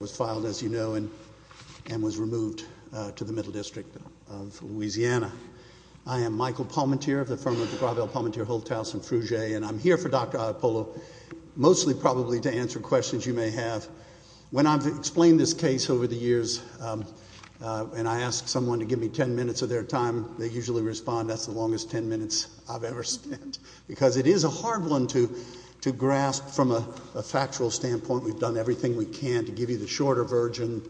was filed, as you know, and was removed to the Middle District of Louisiana. I am Michael Palmentier of the firm of DeGravel, Palmentier, Holthaus, and Frugier, and I'm here for Dr. Ioppolo, mostly probably to answer questions you may have. When I've explained this case over the years, and I ask someone to give me ten minutes of their time, they usually respond, that's the longest ten minutes I've ever spent, because it is a hard one to grasp from a factual standpoint. We've done everything we can to give you the shorter version,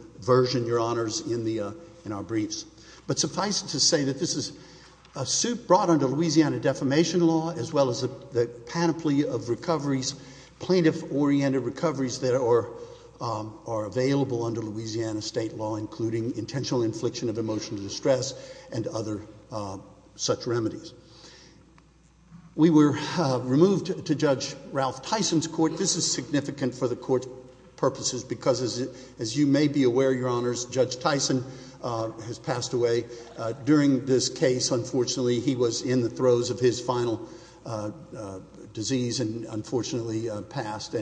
Your Honors, in our briefs. But suffice it to say that this is a suit brought under Louisiana defamation law, as well as the panoply of recoveries, plaintiff-oriented recoveries, that are available under Louisiana state law, including intentional infliction of emotional distress and other such remedies. We were removed to Judge Ralph Tyson's court. This is significant for the Court's purposes because, as you may be aware, Your Honors, Judge Tyson has passed away. During this case, unfortunately, he was in the throes of his final disease and unfortunately passed.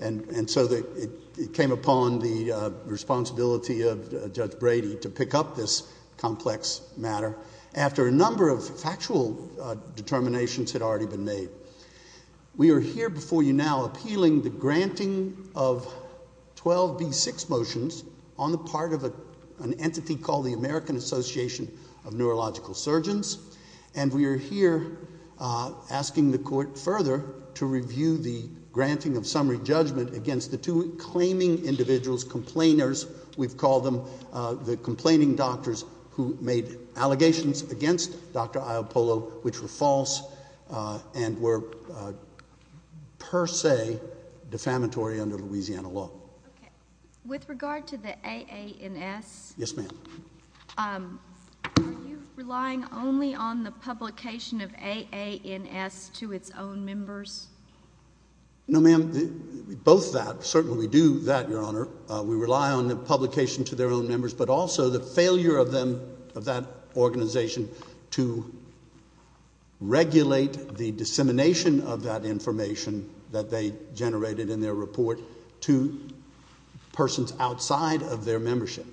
And so it came upon the responsibility of Judge Brady to pick up this complex matter, after a number of factual determinations had already been made. We are here before you now appealing the granting of 12B6 motions on the part of an entity called the American Association of Neurological Surgeons. And we are here asking the Court further to review the granting of summary judgment against the two claiming individuals, complainers, we've called them the complaining doctors, who made allegations against Dr. Ioppolo which were false and were per se defamatory under Louisiana law. Okay. With regard to the AANS? Yes, ma'am. Are you relying only on the publication of AANS to its own members? No, ma'am. Both that. Certainly we do that, Your Honor. We rely on the publication to their own members, but also the failure of them, of that organization, to regulate the dissemination of that information that they generated in their report to persons outside of their membership.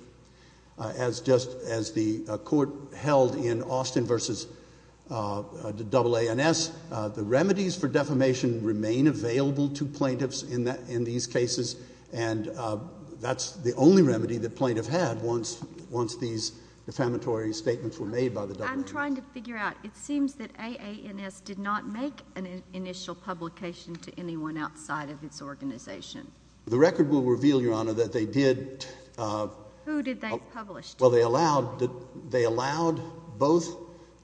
As just as the Court held in Austin v. AANS, the remedies for defamation remain available to plaintiffs in these cases, and that's the only remedy the plaintiff had once these defamatory statements were made by the AANS. I'm trying to figure out. It seems that AANS did not make an initial publication to anyone outside of its organization. The record will reveal, Your Honor, that they did. Who did they publish to? Well, they allowed both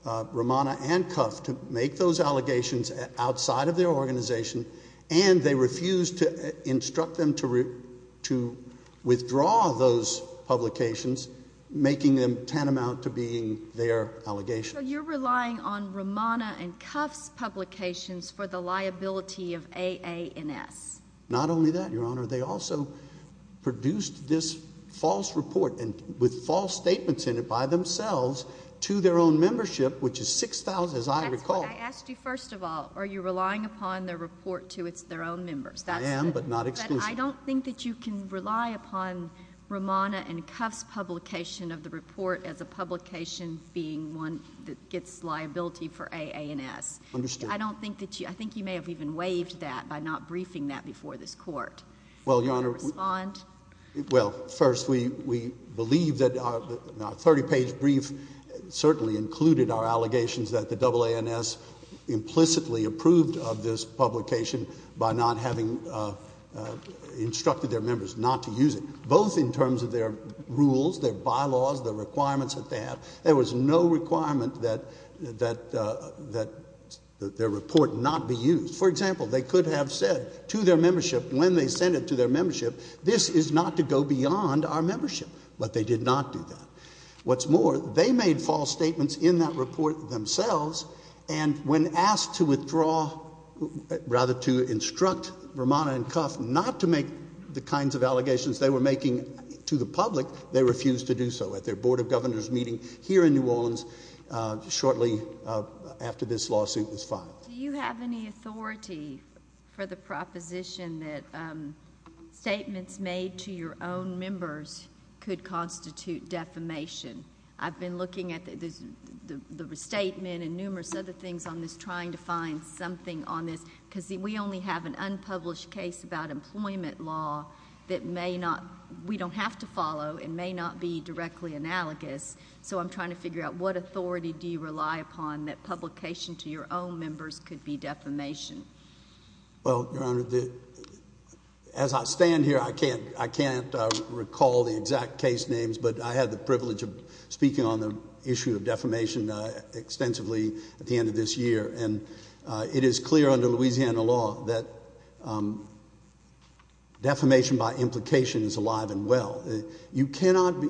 Romana and Cuff to make those allegations outside of their organization, and they refused to instruct them to withdraw those publications, making them tantamount to being their allegations. So you're relying on Romana and Cuff's publications for the liability of AANS? Not only that, Your Honor. They also produced this false report, and with false statements in it by themselves, to their own membership, which is 6,000, as I recall. But I asked you, first of all, are you relying upon their report to their own members? I am, but not exclusively. But I don't think that you can rely upon Romana and Cuff's publication of the report as a publication being one that gets liability for AANS. Understood. I don't think that you—I think you may have even waived that by not briefing that before this Court. Well, Your Honor— Will you respond? Well, first, we believe that our 30-page brief certainly included our allegations that the AANS implicitly approved of this publication by not having instructed their members not to use it, both in terms of their rules, their bylaws, the requirements that they have. There was no requirement that their report not be used. For example, they could have said to their membership when they sent it to their membership, this is not to go beyond our membership, but they did not do that. What's more, they made false statements in that report themselves, and when asked to withdraw—rather, to instruct Romana and Cuff not to make the kinds of allegations they were making to the public, they refused to do so at their Board of Governors meeting here in New Orleans shortly after this lawsuit was filed. Do you have any authority for the proposition that statements made to your own members could constitute defamation? I've been looking at the statement and numerous other things on this, trying to find something on this, because we only have an unpublished case about employment law that we don't have to follow and may not be directly analogous, so I'm trying to figure out what authority do you rely upon that publication to your own members could be defamation? Well, Your Honor, as I stand here, I can't recall the exact case names, but I had the privilege of speaking on the issue of defamation extensively at the end of this year, and it is clear under Louisiana law that defamation by implication is alive and well. You cannot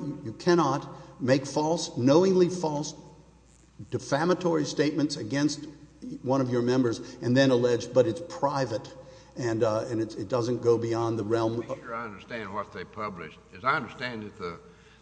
make false, knowingly false, defamatory statements against one of your members and then allege, but it's private, and it doesn't go beyond the realm of— I'm not sure I understand what they published. As I understand it,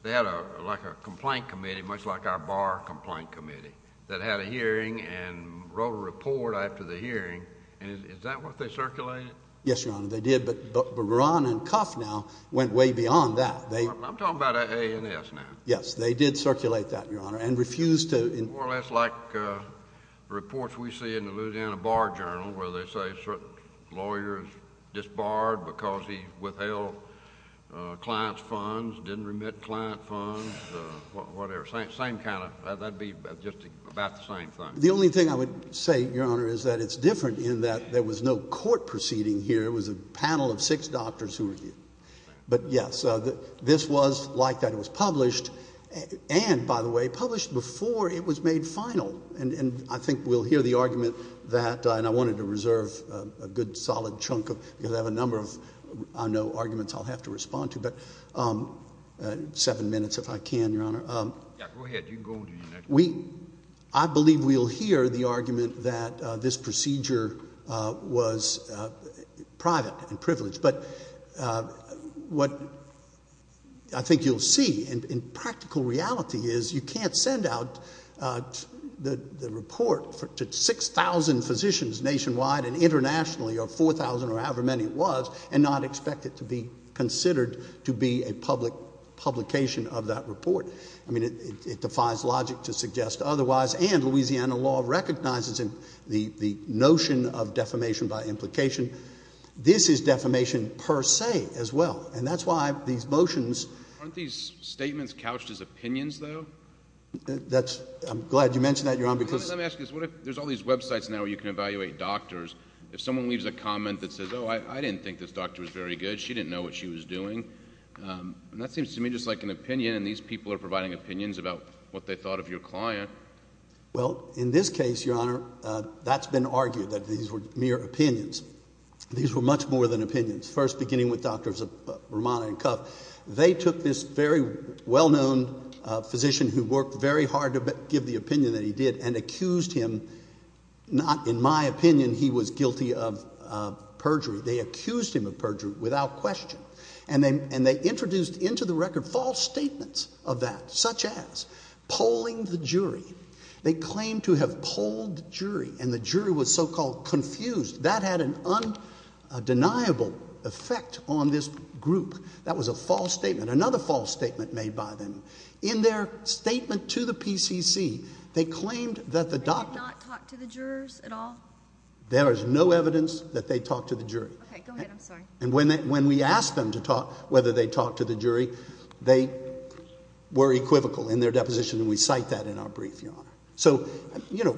they had like a complaint committee, much like our bar complaint committee, that had a hearing and wrote a report after the hearing, and is that what they circulated? Yes, Your Honor, they did, but Buran and Cuff now went way beyond that. I'm talking about AANS now. Yes, they did circulate that, Your Honor, and refused to— More or less like reports we see in the Louisiana Bar Journal where they say lawyers disbarred because he withheld clients' funds, didn't remit client funds, whatever. Same kind of—that would be just about the same thing. The only thing I would say, Your Honor, is that it's different in that there was no court proceeding here. It was a panel of six doctors who were here. But, yes, this was like that. It was published and, by the way, published before it was made final, and I think we'll hear the argument that— and I wanted to reserve a good solid chunk of—because I have a number of, I know, arguments I'll have to respond to, but seven minutes if I can, Your Honor. You can go on to your next question. We—I believe we'll hear the argument that this procedure was private and privileged, but what I think you'll see in practical reality is you can't send out the report to 6,000 physicians nationwide and internationally, or 4,000 or however many it was, and not expect it to be considered to be a publication of that report. I mean, it defies logic to suggest otherwise, and Louisiana law recognizes the notion of defamation by implication. This is defamation per se as well, and that's why these motions— Aren't these statements couched as opinions, though? That's—I'm glad you mentioned that, Your Honor, because— Let me ask you this. What if there's all these websites now where you can evaluate doctors. If someone leaves a comment that says, oh, I didn't think this doctor was very good, she didn't know what she was doing, that seems to me just like an opinion, and these people are providing opinions about what they thought of your client. Well, in this case, Your Honor, that's been argued that these were mere opinions. These were much more than opinions. First, beginning with Drs. Romano and Cuff, they took this very well-known physician who worked very hard to give the opinion that he did and accused him—not, in my opinion, he was guilty of perjury. They accused him of perjury without question, and they introduced into the record false statements of that, such as polling the jury. They claimed to have polled the jury, and the jury was so-called confused. That had an undeniable effect on this group. That was a false statement. Another false statement made by them. In their statement to the PCC, they claimed that the doctors— They did not talk to the jurors at all? There is no evidence that they talked to the jury. Okay. Go ahead. I'm sorry. And when we asked them to talk, whether they talked to the jury, they were equivocal in their deposition, and we cite that in our brief, Your Honor. So, you know,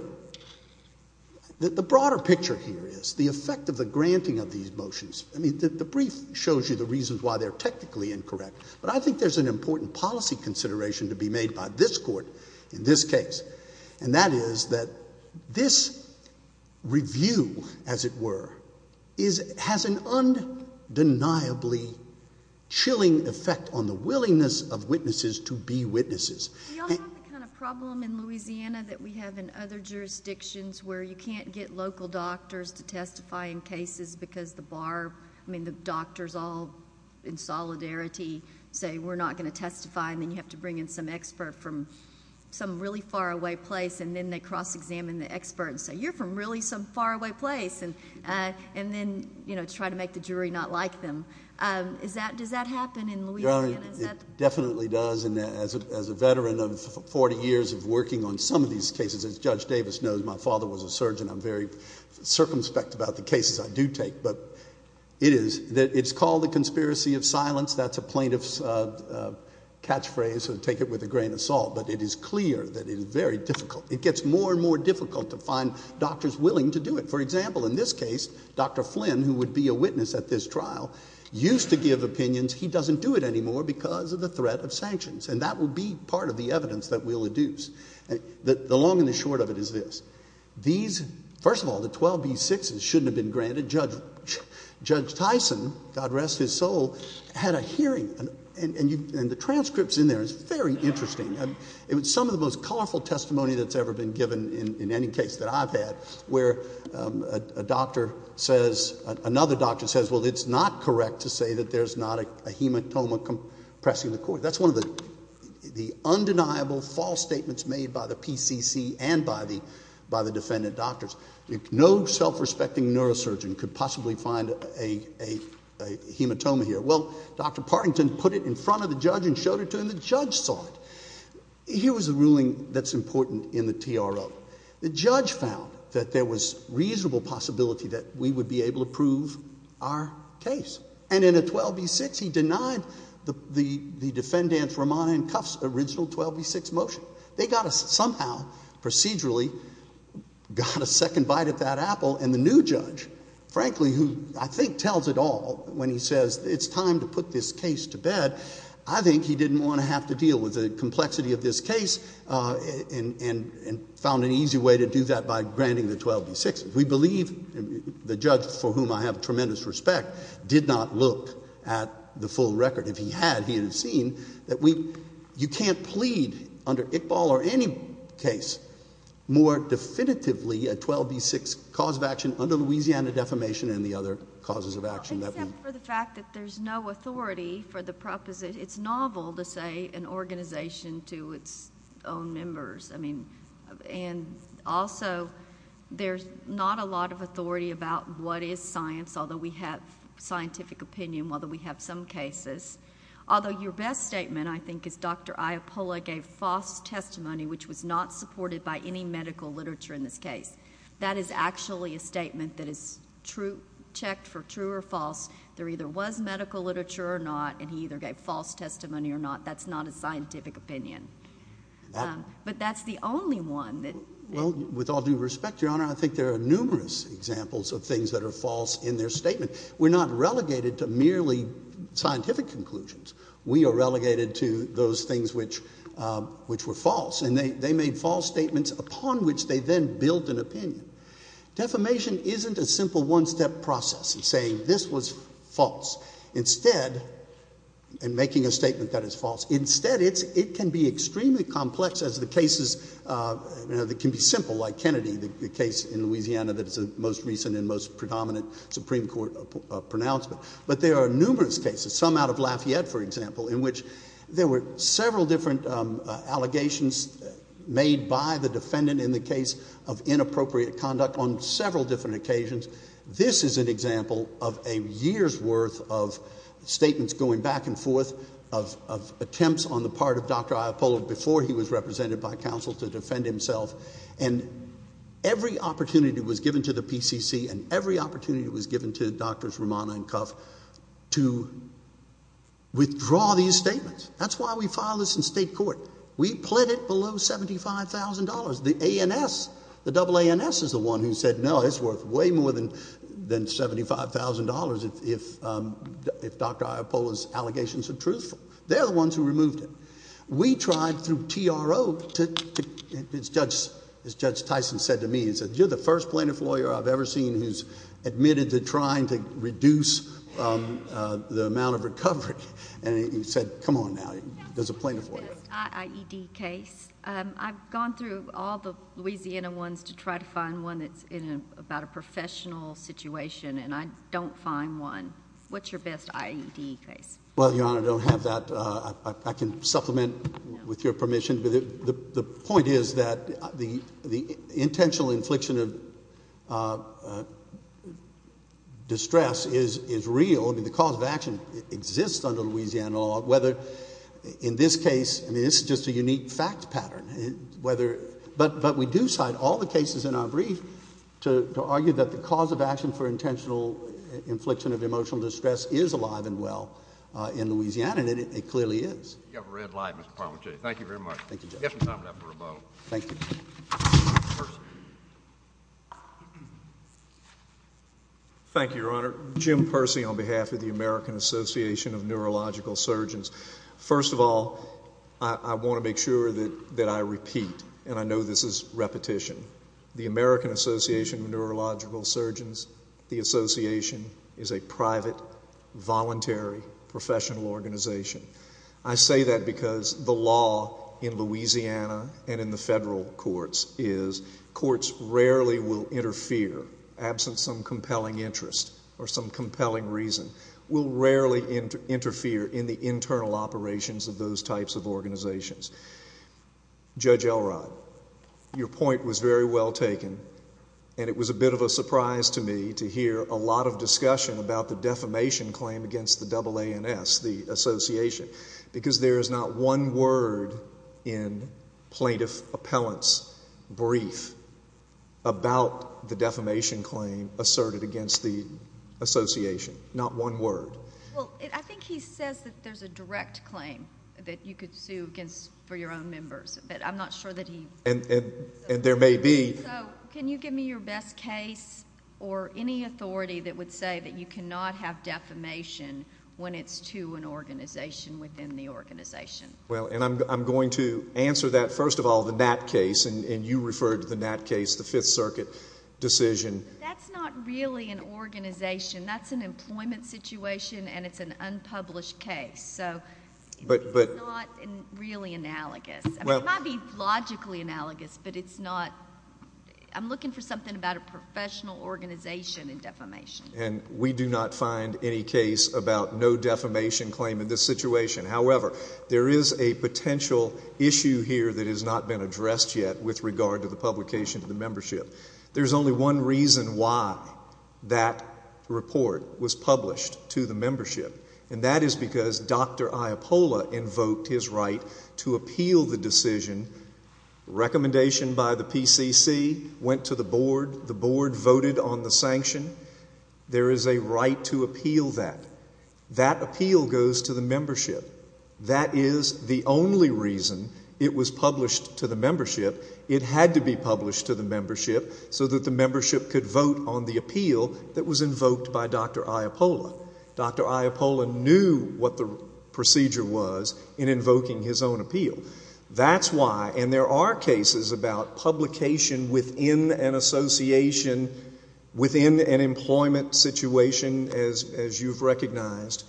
the broader picture here is the effect of the granting of these motions. I mean, the brief shows you the reasons why they're technically incorrect, but I think there's an important policy consideration to be made by this Court in this case, and that is that this review, as it were, has an undeniably chilling effect on the willingness of witnesses to be witnesses. We all have the kind of problem in Louisiana that we have in other jurisdictions where you can't get local doctors to testify in cases because the bar— I mean, the doctors all in solidarity say, we're not going to testify, and then you have to bring in some expert from some really faraway place, and then they cross-examine the expert and say, you're from really some faraway place, and then, you know, try to make the jury not like them. Does that happen in Louisiana? Your Honor, it definitely does, and as a veteran of 40 years of working on some of these cases, as Judge Davis knows, my father was a surgeon. I'm very circumspect about the cases I do take, but it is—it's called the conspiracy of silence. That's a plaintiff's catchphrase, so take it with a grain of salt, but it is clear that it is very difficult. It gets more and more difficult to find doctors willing to do it. For example, in this case, Dr. Flynn, who would be a witness at this trial, used to give opinions. He doesn't do it anymore because of the threat of sanctions, and that will be part of the evidence that we'll adduce. The long and the short of it is this. These—first of all, the 12B6s shouldn't have been granted. Judge Tyson, God rest his soul, had a hearing, and the transcripts in there is very interesting. It was some of the most colorful testimony that's ever been given in any case that I've had, where a doctor says—another doctor says, well, it's not correct to say that there's not a hematoma pressing the court. That's one of the undeniable false statements made by the PCC and by the defendant doctors. No self-respecting neurosurgeon could possibly find a hematoma here. Well, Dr. Partington put it in front of the judge and showed it to him. The judge saw it. Here was a ruling that's important in the TRO. The judge found that there was reasonable possibility that we would be able to prove our case, and in a 12B6 he denied the defendant's, Romano and Cuff's, original 12B6 motion. They got a—somehow procedurally got a second bite at that apple, and the new judge, frankly, who I think tells it all when he says it's time to put this case to bed, I think he didn't want to have to deal with the complexity of this case and found an easy way to do that by granting the 12B6. We believe—the judge, for whom I have tremendous respect, did not look at the full record. If he had, he would have seen that we—you can't plead under Iqbal or any case more definitively a 12B6 cause of action under Louisiana defamation and the other causes of action that we— Except for the fact that there's no authority for the proposal. It's novel to say an organization to its own members. Also, there's not a lot of authority about what is science, although we have scientific opinion, although we have some cases. Although your best statement, I think, is Dr. Iapulla gave false testimony, which was not supported by any medical literature in this case. That is actually a statement that is checked for true or false. There either was medical literature or not, and he either gave false testimony or not. That's not a scientific opinion. But that's the only one that— Well, with all due respect, Your Honor, I think there are numerous examples of things that are false in their statement. We're not relegated to merely scientific conclusions. We are relegated to those things which were false. And they made false statements upon which they then built an opinion. Defamation isn't a simple one-step process of saying this was false. Instead—and making a statement that is false. Instead, it can be extremely complex as the cases that can be simple, like Kennedy, the case in Louisiana that is the most recent and most predominant Supreme Court pronouncement. But there are numerous cases, some out of Lafayette, for example, in which there were several different allegations made by the defendant in the case of inappropriate conduct on several different occasions. This is an example of a year's worth of statements going back and forth, of attempts on the part of Dr. Iappolo before he was represented by counsel to defend himself. And every opportunity was given to the PCC and every opportunity was given to Drs. Romano and Cuff to withdraw these statements. That's why we filed this in state court. We pled it below $75,000. The ANS, the AANS is the one who said, no, it's worth way more than $75,000 if Dr. Iappolo's allegations are truthful. They're the ones who removed it. We tried through TRO to—as Judge Tyson said to me, he said, you're the first plaintiff lawyer I've ever seen who's admitted to trying to reduce the amount of recovery. And he said, come on now, there's a plaintiff lawyer. What's your best IED case? I've gone through all the Louisiana ones to try to find one that's about a professional situation, and I don't find one. What's your best IED case? Well, Your Honor, I don't have that. I can supplement with your permission. The point is that the intentional infliction of distress is real. I mean, the cause of action exists under Louisiana law. Whether—in this case, I mean, this is just a unique fact pattern. Whether—but we do cite all the cases in our brief to argue that the cause of action for intentional infliction of emotional distress is alive and well in Louisiana, and it clearly is. You have a red light, Mr. Parmentier. Thank you very much. Thank you, Judge. You have some time left for rebuttal. Thank you. Thank you, Your Honor. Jim Percy on behalf of the American Association of Neurological Surgeons. First of all, I want to make sure that I repeat, and I know this is repetition, the American Association of Neurological Surgeons, the association, is a private, voluntary, professional organization. I say that because the law in Louisiana and in the federal courts is courts rarely will interfere, absent some compelling interest or some compelling reason, will rarely interfere in the internal operations of those types of organizations. Judge Elrod, your point was very well taken, and it was a bit of a surprise to me to hear a lot of discussion about the defamation claim against the AANS, the association, because there is not one word in plaintiff appellant's brief about the defamation claim asserted against the association. Not one word. Well, I think he says that there's a direct claim that you could sue against for your own members, but I'm not sure that he... And there may be. So, can you give me your best case or any authority that would say that you cannot have defamation when it's to an organization within the organization? Well, and I'm going to answer that. First of all, the Nat case, and you referred to the Nat case, the Fifth Circuit decision. That's not really an organization. That's an employment situation, and it's an unpublished case. So... But... It's not really analogous. Well... It might be logically analogous, but it's not. I'm looking for something about a professional organization in defamation. And we do not find any case about no defamation claim in this situation. However, there is a potential issue here that has not been addressed yet with regard to the publication of the membership. There's only one reason why that report was published to the membership, and that is because Dr. Iapola invoked his right to appeal the decision, recommendation by the PCC, went to the board, the board voted on the sanction. There is a right to appeal that. That appeal goes to the membership. That is the only reason it was published to the membership. It had to be published to the membership so that the membership could vote on the appeal that was invoked by Dr. Iapola. Dr. Iapola knew what the procedure was in invoking his own appeal. That's why... And there are cases about publication within an association, within an employment situation, as you've recognized.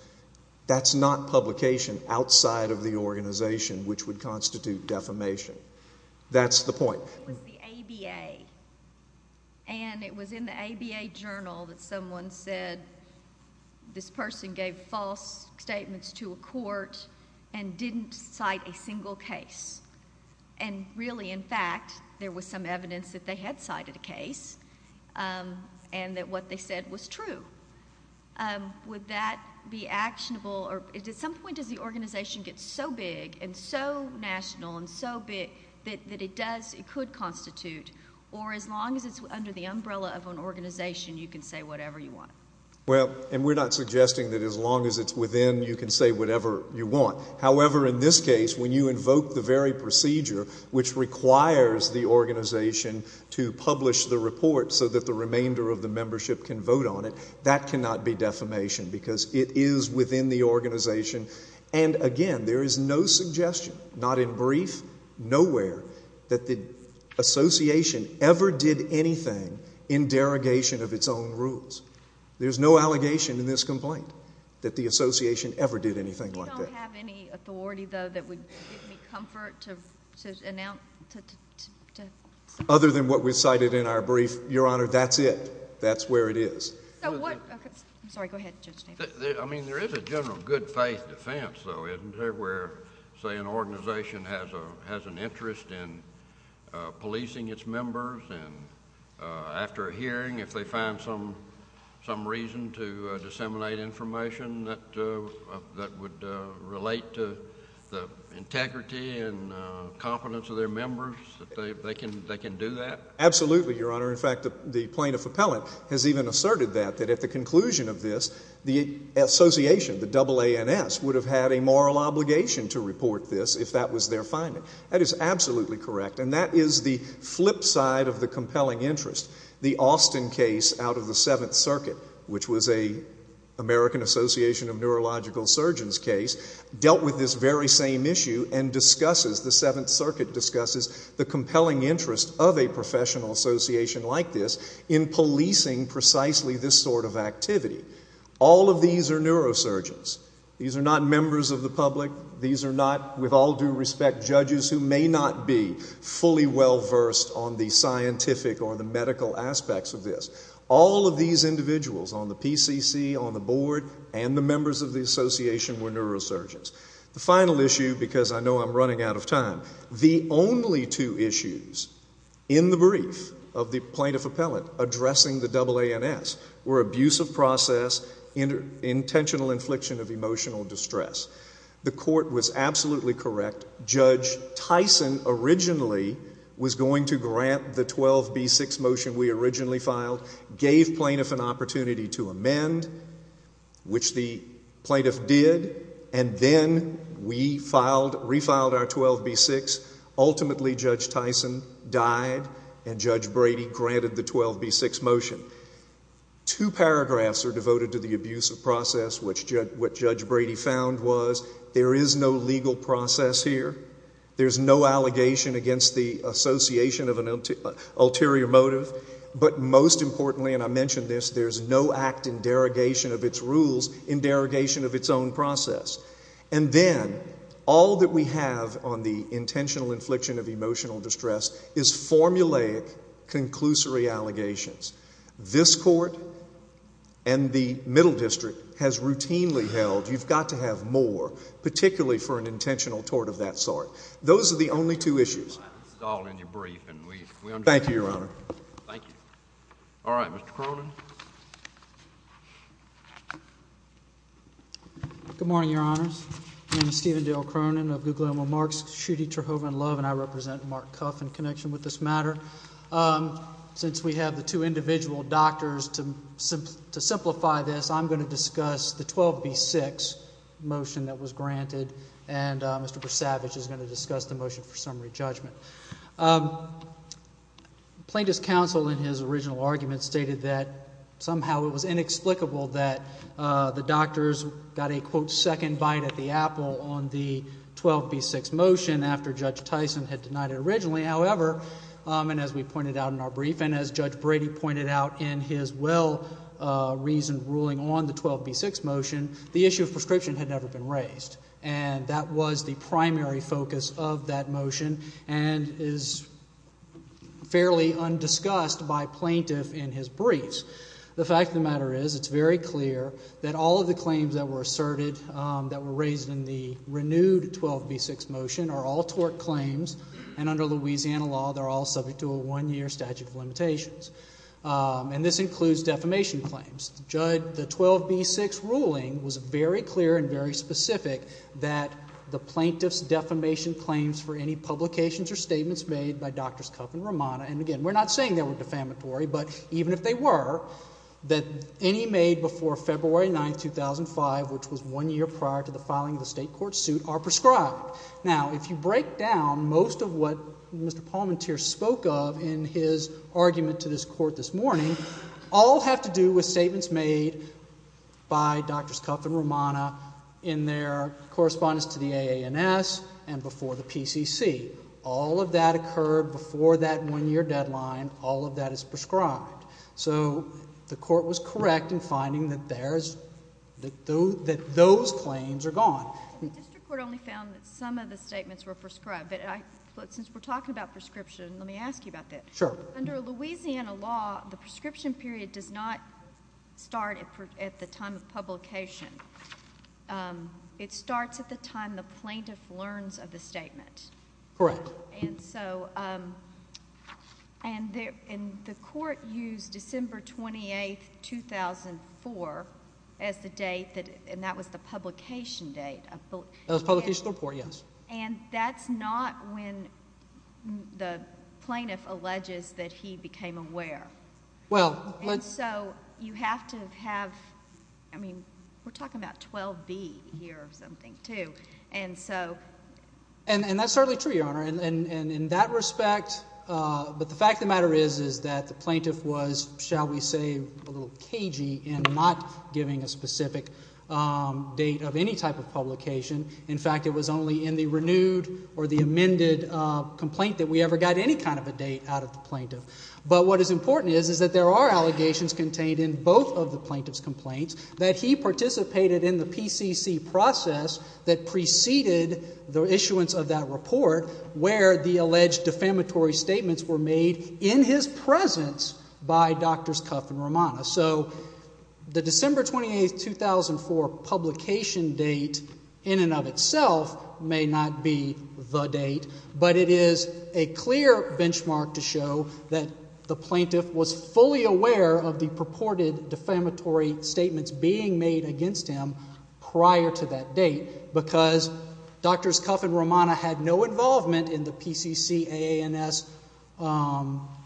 That's not publication outside of the organization, which would constitute defamation. That's the point. It was the ABA, and it was in the ABA journal that someone said this person gave false statements to a court and didn't cite a single case. And really, in fact, there was some evidence that they had cited a case and that what they said was true. Would that be actionable? Or at some point, does the organization get so big and so national and so big that it does, it could constitute, or as long as it's under the umbrella of an organization, you can say whatever you want? Well, and we're not suggesting that as long as it's within, you can say whatever you want. However, in this case, when you invoke the very procedure which requires the organization to publish the report so that the remainder of the membership can vote on it, that cannot be defamation because it is within the organization. And again, there is no suggestion, not in brief, nowhere, that the association ever did anything in derogation of its own rules. There's no allegation in this complaint that the association ever did anything like that. We don't have any authority, though, that would give me comfort to announce... Your Honor, that's it. That's where it is. So what... I'm sorry, go ahead, Judge Davis. I mean, there is a general good faith defense, though, isn't there, where, say, an organization has an interest in policing its members and after a hearing, if they find some reason to disseminate information that would relate to the integrity and competence of their members, that they can do that? Absolutely, Your Honor. In fact, the plaintiff appellant has even asserted that, that at the conclusion of this, the association, the AANS, would have had a moral obligation to report this if that was their finding. That is absolutely correct. And that is the flip side of the compelling interest. The Austin case out of the Seventh Circuit, which was an American Association of Neurological Surgeons case, dealt with this very same issue and discusses, the Seventh Circuit discusses, the compelling interest of a professional association like this in policing precisely this sort of activity. All of these are neurosurgeons. These are not members of the public. These are not, with all due respect, judges who may not be fully well versed on the scientific or the medical aspects of this. All of these individuals on the PCC, on the board, and the members of the association were neurosurgeons. The final issue, because I know I'm running out of time, the only two issues in the brief of the plaintiff appellant addressing the AANS were abuse of process, intentional infliction of emotional distress. The court was absolutely correct. Judge Tyson originally was going to grant the 12B6 motion we originally filed, gave plaintiff an opportunity to amend, which the plaintiff did, and then we refiled our 12B6. Ultimately, Judge Tyson died and Judge Brady granted the 12B6 motion. Two paragraphs are devoted to the abuse of process, which Judge Brady found was there is no legal process here. There's no allegation against the association of an ulterior motive. But most importantly, and I mentioned this, there's no act in derogation of its rules in derogation of its own process. And then all that we have on the intentional infliction of emotional distress is formulaic, conclusory allegations. This court and the middle district has routinely held you've got to have more, particularly for an intentional tort of that sort. Those are the only two issues. This is all in your brief, and we understand. Thank you, Your Honor. Thank you. All right, Mr. Cronin. Good morning, Your Honors. My name is Stephen Dale Cronin of Guglielmo Marks, Schutte, Terhoven, Love, and I represent Mark Cuff in connection with this matter. Since we have the two individual doctors, to simplify this, I'm going to discuss the 12B6 motion that was granted, and Mr. Brasavage is going to discuss the motion for summary judgment. Plaintiff's counsel in his original argument stated that somehow it was inexplicable that the doctors got a, quote, and as we pointed out in our brief and as Judge Brady pointed out in his well-reasoned ruling on the 12B6 motion, the issue of prescription had never been raised, and that was the primary focus of that motion and is fairly undiscussed by plaintiff in his briefs. The fact of the matter is it's very clear that all of the claims that were asserted that were raised in the renewed 12B6 motion are all tort claims, and under Louisiana law, they're all subject to a one-year statute of limitations. And this includes defamation claims. The 12B6 ruling was very clear and very specific that the plaintiff's defamation claims for any publications or statements made by Drs. Cuff and Romano, and again, we're not saying they were defamatory, but even if they were, that any made before February 9, 2005, which was one year prior to the filing of the state court suit, are prescribed. Now, if you break down most of what Mr. Palmentier spoke of in his argument to this Court this morning, all have to do with statements made by Drs. Cuff and Romano in their correspondence to the AANS and before the PCC. All of that occurred before that one-year deadline. All of that is prescribed. So the Court was correct in finding that those claims are gone. The district court only found that some of the statements were prescribed. But since we're talking about prescription, let me ask you about that. Sure. Under Louisiana law, the prescription period does not start at the time of publication. It starts at the time the plaintiff learns of the statement. Correct. And so the Court used December 28, 2004 as the date, and that was the publication date. That was the publication of the report, yes. And that's not when the plaintiff alleges that he became aware. Well, let's – And so you have to have – I mean, we're talking about 12B here or something, too. And that's certainly true, Your Honor. And in that respect – but the fact of the matter is that the plaintiff was, shall we say, a little cagey in not giving a specific date of any type of publication. In fact, it was only in the renewed or the amended complaint that we ever got any kind of a date out of the plaintiff. But what is important is that there are allegations contained in both of the plaintiff's complaints that he participated in the PCC process that preceded the issuance of that report where the alleged defamatory statements were made in his presence by Drs. Cuff and Romano. So the December 28, 2004 publication date in and of itself may not be the date, but it is a clear benchmark to show that the plaintiff was fully aware of the purported defamatory statements being made against him prior to that date because Drs. Cuff and Romano had no involvement in the PCC AANS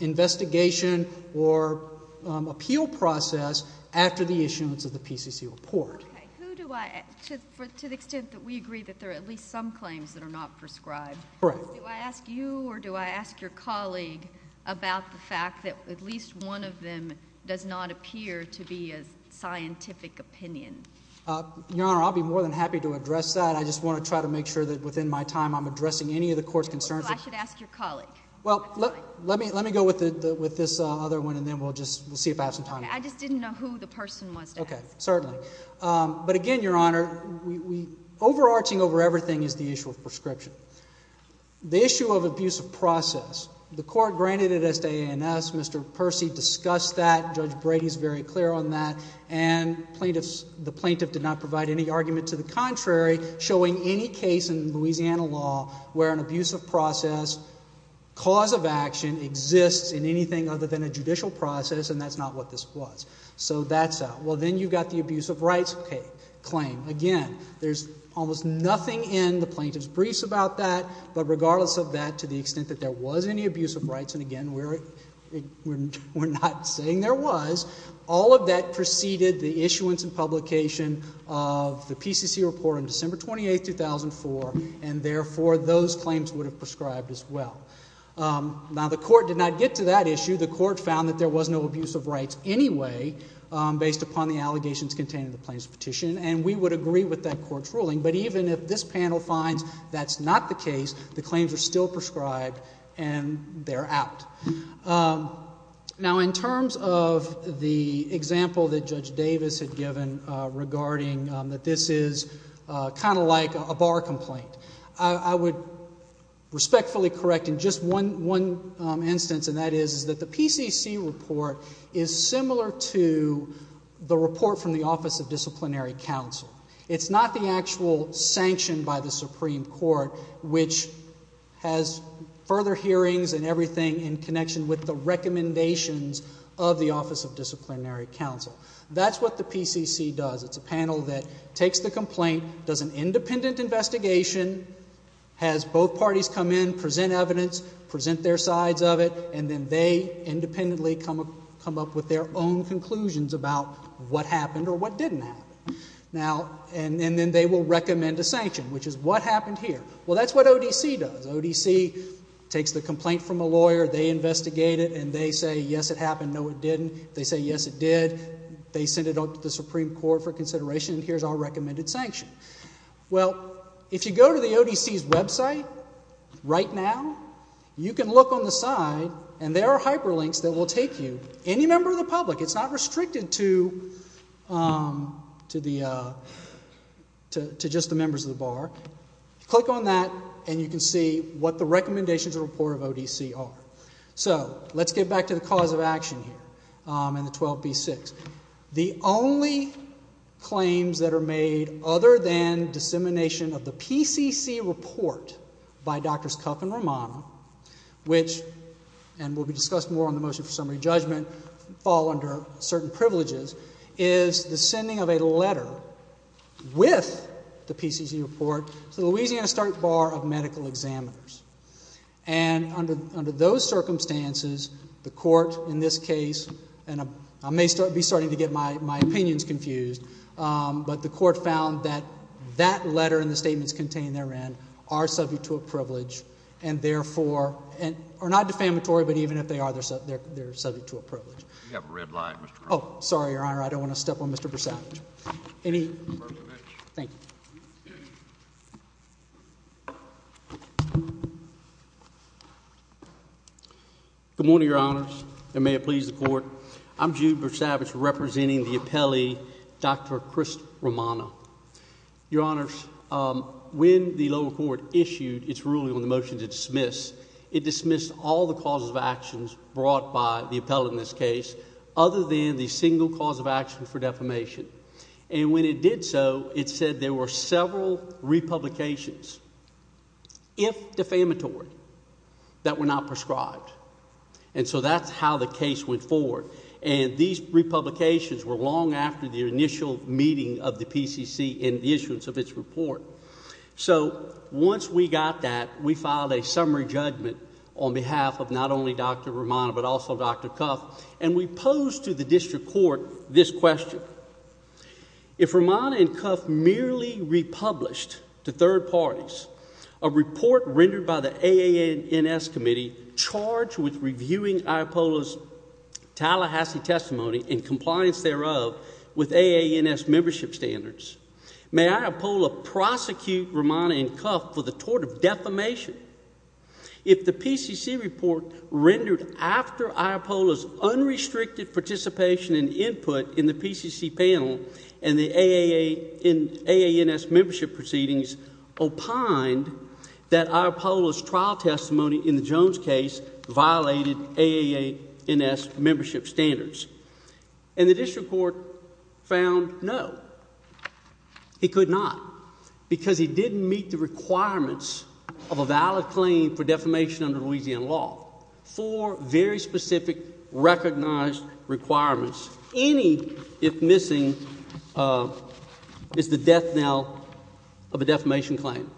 investigation or appeal process after the issuance of the PCC report. Okay. Who do I – to the extent that we agree that there are at least some claims that are not prescribed. Correct. Do I ask you or do I ask your colleague about the fact that at least one of them does not appear to be a scientific opinion? Your Honor, I'll be more than happy to address that. I just want to try to make sure that within my time I'm addressing any of the court's concerns. So I should ask your colleague. Well, let me go with this other one and then we'll just see if I have some time. I just didn't know who the person was to ask. Okay. Certainly. But again, Your Honor, overarching over everything is the issue of prescription. The issue of abusive process. The court granted it as to AANS. Mr. Percy discussed that. Judge Brady is very clear on that. And the plaintiff did not provide any argument to the contrary showing any case in Louisiana law where an abusive process cause of action exists in anything other than a judicial process and that's not what this was. So that's out. Well, then you've got the abusive rights claim. Again, there's almost nothing in the plaintiff's briefs about that. But regardless of that, to the extent that there was any abusive rights, and again, we're not saying there was, all of that preceded the issuance and publication of the PCC report on December 28, 2004. And therefore, those claims would have prescribed as well. Now, the court did not get to that issue. The court found that there was no abusive rights anyway based upon the allegations contained in the plaintiff's petition and we would agree with that court's ruling. But even if this panel finds that's not the case, the claims are still prescribed and they're out. Now, in terms of the example that Judge Davis had given regarding that this is kind of like a bar complaint, I would respectfully correct in just one instance and that is that the PCC report is similar to the report from the Office of Disciplinary Counsel. It's not the actual sanction by the Supreme Court which has further hearings and everything in connection with the recommendations of the Office of Disciplinary Counsel. That's what the PCC does. It's a panel that takes the complaint, does an independent investigation, has both parties come in, present evidence, present their sides of it, and then they independently come up with their own conclusions about what happened or what didn't happen. And then they will recommend a sanction, which is what happened here. Well, that's what ODC does. ODC takes the complaint from a lawyer, they investigate it, and they say, yes, it happened, no, it didn't. They say, yes, it did. They send it up to the Supreme Court for consideration and here's our recommended sanction. Well, if you go to the ODC's website right now, you can look on the side and there are hyperlinks that will take you, any member of the public. It's not restricted to just the members of the bar. Click on that and you can see what the recommendations and report of ODC are. So, let's get back to the cause of action here in the 12B-6. The only claims that are made other than dissemination of the PCC report by Drs. Cuff and Romano, which, and will be discussed more on the motion for summary judgment, fall under certain privileges, is the sending of a letter with the PCC report to the Louisiana State Bar of Medical Examiners. And under those circumstances, the court in this case, and I may be starting to get my opinions confused, but the court found that that letter and the statements contained therein are subject to a privilege and, therefore, are not defamatory, but even if they are, they're subject to a privilege. You have a red light, Mr. Cronin. Oh, sorry, Your Honor. I don't want to step on Mr. Brasavage. Mr. Brasavage. Thank you. Good morning, Your Honors, and may it please the Court. I'm Jude Brasavage representing the appellee, Dr. Chris Romano. Your Honors, when the lower court issued its ruling on the motion to dismiss, it dismissed all the causes of actions brought by the appellate in this case other than the single cause of action for defamation. And when it did so, it said there were several republications, if defamatory, that were not prescribed. And so that's how the case went forward, and these republications were long after the initial meeting of the PCC in the issuance of its report. So once we got that, we filed a summary judgment on behalf of not only Dr. Romano but also Dr. Cuff, and we posed to the district court this question. If Romano and Cuff merely republished to third parties a report rendered by the AANS committee charged with reviewing Iapola's Tallahassee testimony in compliance thereof with AANS membership standards, may Iapola prosecute Romano and Cuff for the tort of defamation? If the PCC report rendered after Iapola's unrestricted participation and input in the PCC panel and the AANS membership proceedings opined that Iapola's trial testimony in the Jones case violated AANS membership standards? And the district court found no, he could not, because he didn't meet the requirements of a valid claim for defamation under Louisiana law. Four very specific recognized requirements. Any, if missing, is the death knell of a defamation claim.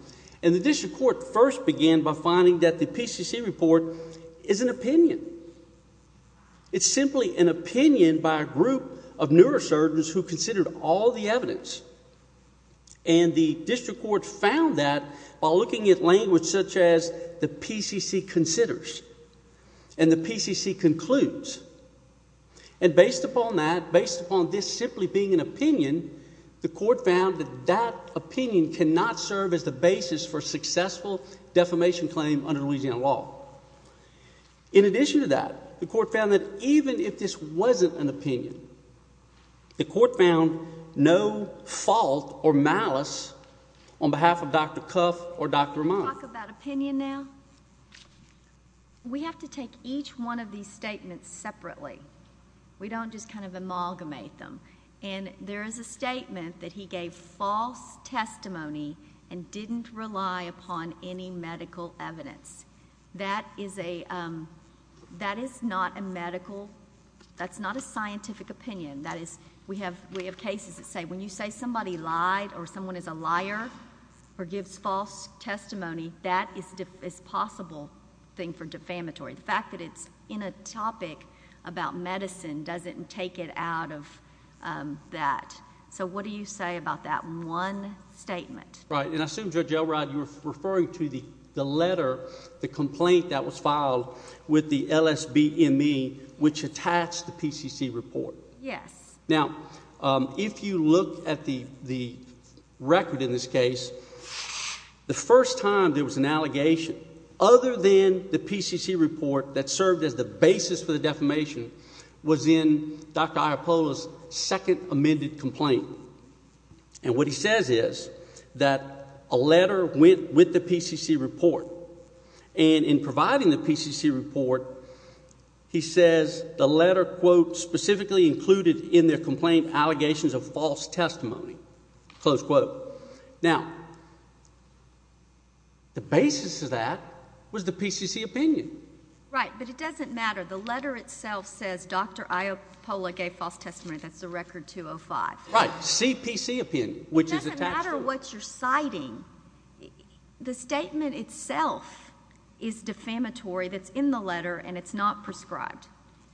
And the district court first began by finding that the PCC report is an opinion. It's simply an opinion by a group of neurosurgeons who considered all the evidence. And the district court found that while looking at language such as the PCC considers and the PCC concludes. And based upon that, based upon this simply being an opinion, the court found that that opinion cannot serve as the basis for a successful defamation claim under Louisiana law. In addition to that, the court found that even if this wasn't an opinion, the court found no fault or malice on behalf of Dr. Cuff or Dr. Romano. Can we talk about opinion now? We have to take each one of these statements separately. We don't just kind of amalgamate them. And there is a statement that he gave false testimony and didn't rely upon any medical evidence. That is a, that is not a medical, that's not a scientific opinion. That is, we have cases that say when you say somebody lied or someone is a liar or gives false testimony, that is a possible thing for defamatory. The fact that it's in a topic about medicine doesn't take it out of that. So what do you say about that one statement? Right. And I assume, Judge Elrod, you're referring to the letter, the complaint that was filed with the LSBME, which attached the PCC report. Yes. Now, if you look at the record in this case, the first time there was an allegation other than the PCC report that served as the basis for the defamation was in Dr. Iapola's second amended complaint. And what he says is that a letter went with the PCC report. And in providing the PCC report, he says the letter, quote, specifically included in their complaint allegations of false testimony, close quote. Now, the basis of that was the PCC opinion. Right. But it doesn't matter. The letter itself says Dr. Iapola gave false testimony. That's the record 205. Right. CPC opinion, which is attached to it. It doesn't matter what you're citing. The statement itself is defamatory that's in the letter, and it's not prescribed.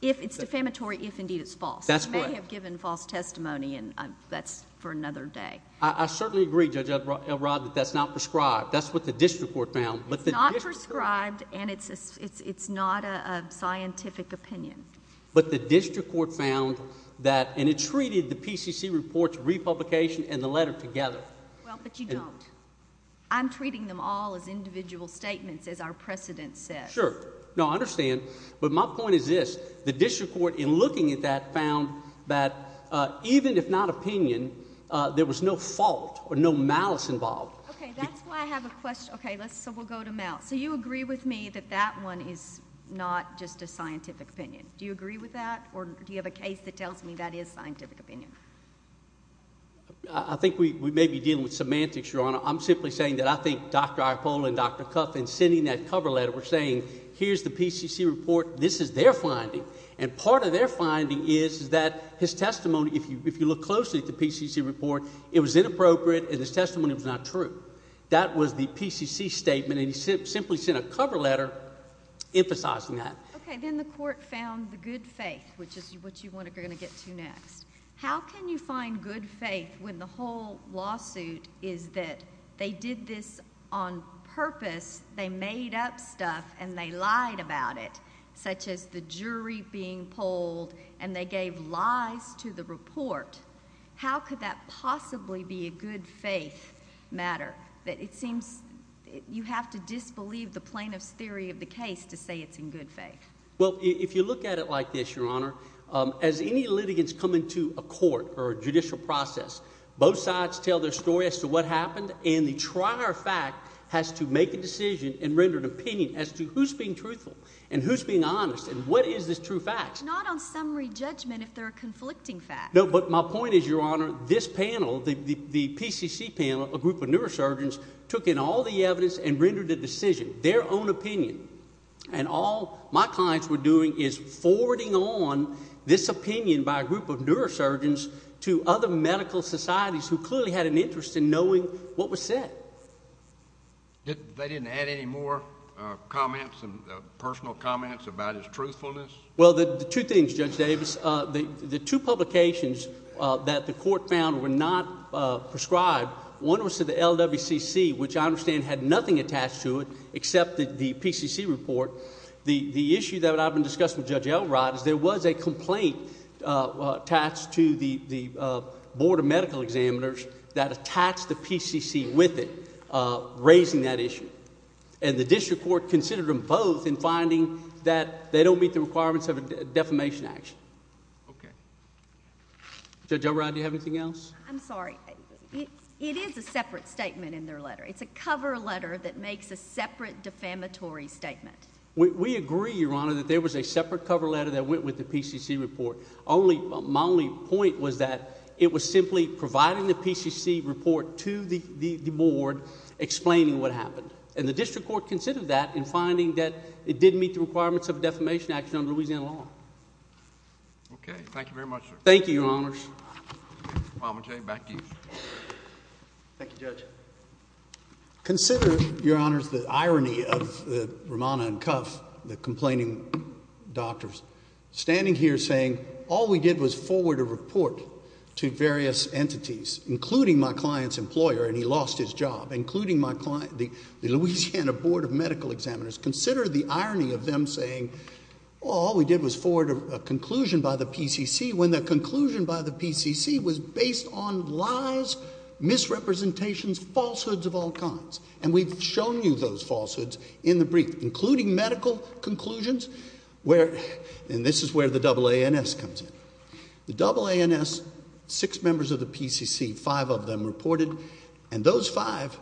It's defamatory if indeed it's false. That's correct. You may have given false testimony, and that's for another day. I certainly agree, Judge Elrod, that that's not prescribed. That's what the district court found. It's not prescribed, and it's not a scientific opinion. But the district court found that, and it treated the PCC report's republication and the letter together. Well, but you don't. I'm treating them all as individual statements, as our precedent says. Sure. No, I understand. But my point is this. The district court, in looking at that, found that even if not opinion, there was no fault or no malice involved. Okay, that's why I have a question. Okay, so we'll go to Mal. So you agree with me that that one is not just a scientific opinion. Do you agree with that, or do you have a case that tells me that is scientific opinion? I think we may be dealing with semantics, Your Honor. I'm simply saying that I think Dr. Iacopolo and Dr. Cuffin sending that cover letter were saying, here's the PCC report, this is their finding. And part of their finding is that his testimony, if you look closely at the PCC report, it was inappropriate, and his testimony was not true. That was the PCC statement, and he simply sent a cover letter emphasizing that. Okay, then the court found the good faith, which is what you're going to get to next. How can you find good faith when the whole lawsuit is that they did this on purpose, they made up stuff, and they lied about it, such as the jury being polled and they gave lies to the report? How could that possibly be a good faith matter? It seems you have to disbelieve the plaintiff's theory of the case to say it's in good faith. Well, if you look at it like this, Your Honor, as any litigants come into a court or a judicial process, both sides tell their story as to what happened, and the trier fact has to make a decision and render an opinion as to who's being truthful and who's being honest and what is this true fact. Not on summary judgment if they're a conflicting fact. No, but my point is, Your Honor, this panel, the PCC panel, a group of neurosurgeons, took in all the evidence and rendered a decision, their own opinion. And all my clients were doing is forwarding on this opinion by a group of neurosurgeons to other medical societies who clearly had an interest in knowing what was said. They didn't add any more comments, personal comments about his truthfulness? Well, two things, Judge Davis. The two publications that the court found were not prescribed, one was to the LWCC, which I understand had nothing attached to it except the PCC report. The issue that I've been discussing with Judge Elrod is there was a complaint attached to the Board of Medical Examiners that attached the PCC with it, raising that issue. And the district court considered them both in finding that they don't meet the requirements of a defamation action. Okay. Judge Elrod, do you have anything else? I'm sorry. It is a separate statement in their letter. It's a cover letter that makes a separate defamatory statement. We agree, Your Honor, that there was a separate cover letter that went with the PCC report. My only point was that it was simply providing the PCC report to the board explaining what happened. And the district court considered that in finding that it didn't meet the requirements of a defamation action under Louisiana law. Thank you very much, Your Honor. Thank you, Your Honors. Mr. Palmate, back to you. Thank you, Judge. Consider, Your Honors, the irony of Romana and Cuff, the complaining doctors, standing here saying all we did was forward a report to various entities, including my client's employer, and he lost his job, including the Louisiana Board of Medical Examiners. Consider the irony of them saying all we did was forward a conclusion by the PCC when the conclusion by the PCC was based on lies, misrepresentations, falsehoods of all kinds. And we've shown you those falsehoods in the brief, including medical conclusions, and this is where the AANS comes in. The AANS, six members of the PCC, five of them reported, and those five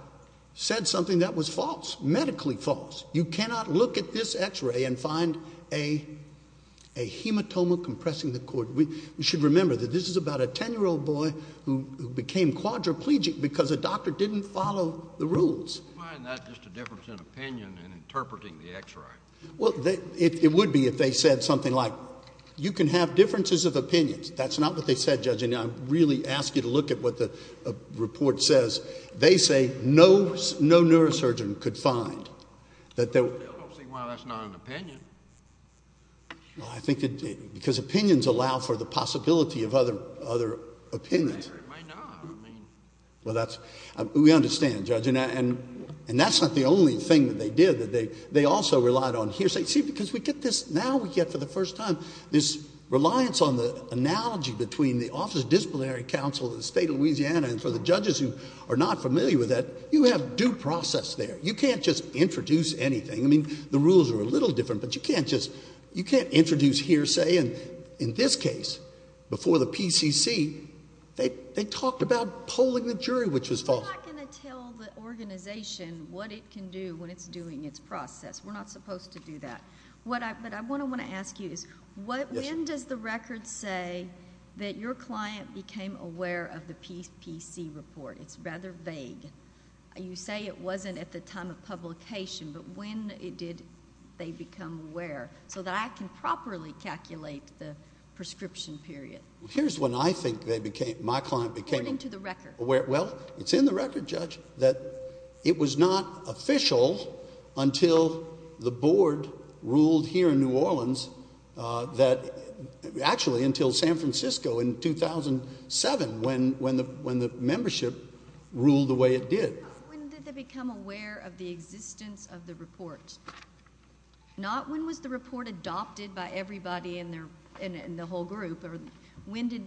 said something that was false, medically false. You cannot look at this X-ray and find a hematoma compressing the cord. We should remember that this is about a 10-year-old boy who became quadriplegic because a doctor didn't follow the rules. Why isn't that just a difference in opinion in interpreting the X-ray? Well, it would be if they said something like, you can have differences of opinions. That's not what they said, Judge. And I really ask you to look at what the report says. They say no neurosurgeon could find. Well, that's not an opinion. Because opinions allow for the possibility of other opinions. Well, we understand, Judge. And that's not the only thing that they did. They also relied on hearsay. See, because now we get for the first time this reliance on the analogy between the Office of Disciplinary Counsel of the State of Louisiana and for the judges who are not familiar with that, you have due process there. You can't just introduce anything. I mean, the rules are a little different, but you can't just introduce hearsay. And in this case, before the PCC, they talked about polling the jury, which was false. We're not going to tell the organization what it can do when it's doing its process. We're not supposed to do that. But what I want to ask you is when does the record say that your client became aware of the PCC report? It's rather vague. You say it wasn't at the time of publication, but when did they become aware? So that I can properly calculate the prescription period. Here's when I think my client became aware. According to the record. Well, it's in the record, Judge, that it was not official until the board ruled here in New Orleans that, actually, until San Francisco in 2007 when the membership ruled the way it did. When did they become aware of the existence of the report? Not when was the report adopted by everybody in the whole group, or when did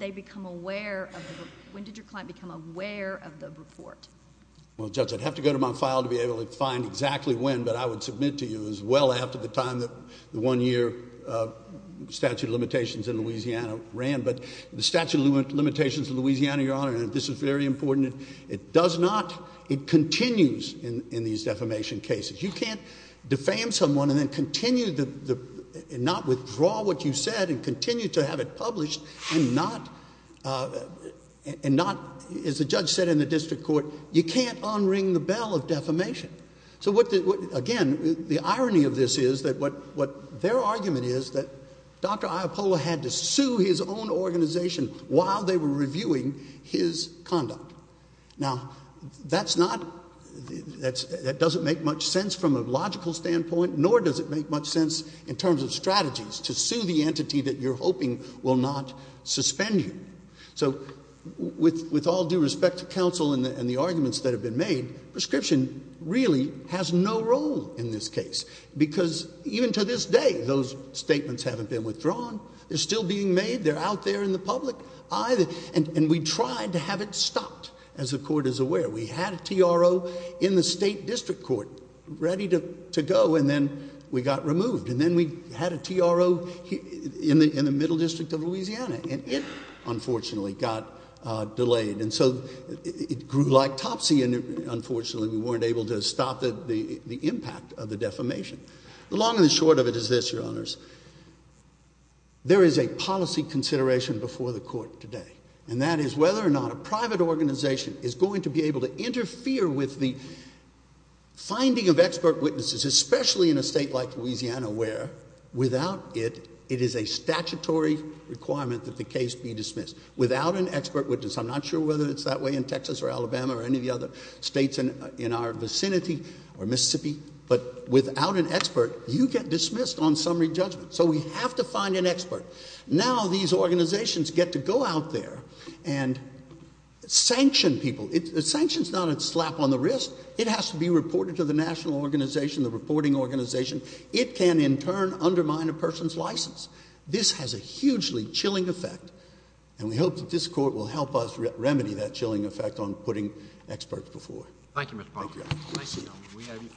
your client become aware of the report? Well, Judge, I'd have to go to my file to be able to find exactly when, but I would submit to you as well after the time that the one-year statute of limitations in Louisiana ran. But the statute of limitations in Louisiana, Your Honor, and this is very important, it does not, it continues in these defamation cases. You can't defame someone and then continue to not withdraw what you said and continue to have it published and not, as the judge said in the district court, you can't unring the bell of defamation. So, again, the irony of this is that what their argument is that Dr. Iapola had to sue his own organization while they were reviewing his conduct. Now, that's not, that doesn't make much sense from a logical standpoint, nor does it make much sense in terms of strategies to sue the entity that you're hoping will not suspend you. So, with all due respect to counsel and the arguments that have been made, prescription really has no role in this case because even to this day those statements haven't been withdrawn, they're still being made, they're out there in the public eye. And we tried to have it stopped, as the court is aware. We had a TRO in the state district court ready to go and then we got removed. And then we had a TRO in the middle district of Louisiana and it, unfortunately, got delayed. And so it grew like topsy and, unfortunately, we weren't able to stop the impact of the defamation. The long and the short of it is this, Your Honors. There is a policy consideration before the court today, and that is whether or not a private organization is going to be able to interfere with the finding of expert witnesses, especially in a state like Louisiana where, without it, it is a statutory requirement that the case be dismissed. Without an expert witness, I'm not sure whether it's that way in Texas or Alabama or any of the other states in our vicinity or Mississippi, but without an expert, you get dismissed on summary judgment. So we have to find an expert. Now these organizations get to go out there and sanction people. A sanction's not a slap on the wrist. It has to be reported to the national organization, the reporting organization. It can, in turn, undermine a person's license. This has a hugely chilling effect, and we hope that this court will help us remedy that chilling effect on putting experts before. Thank you, Mr. Parker. Thank you.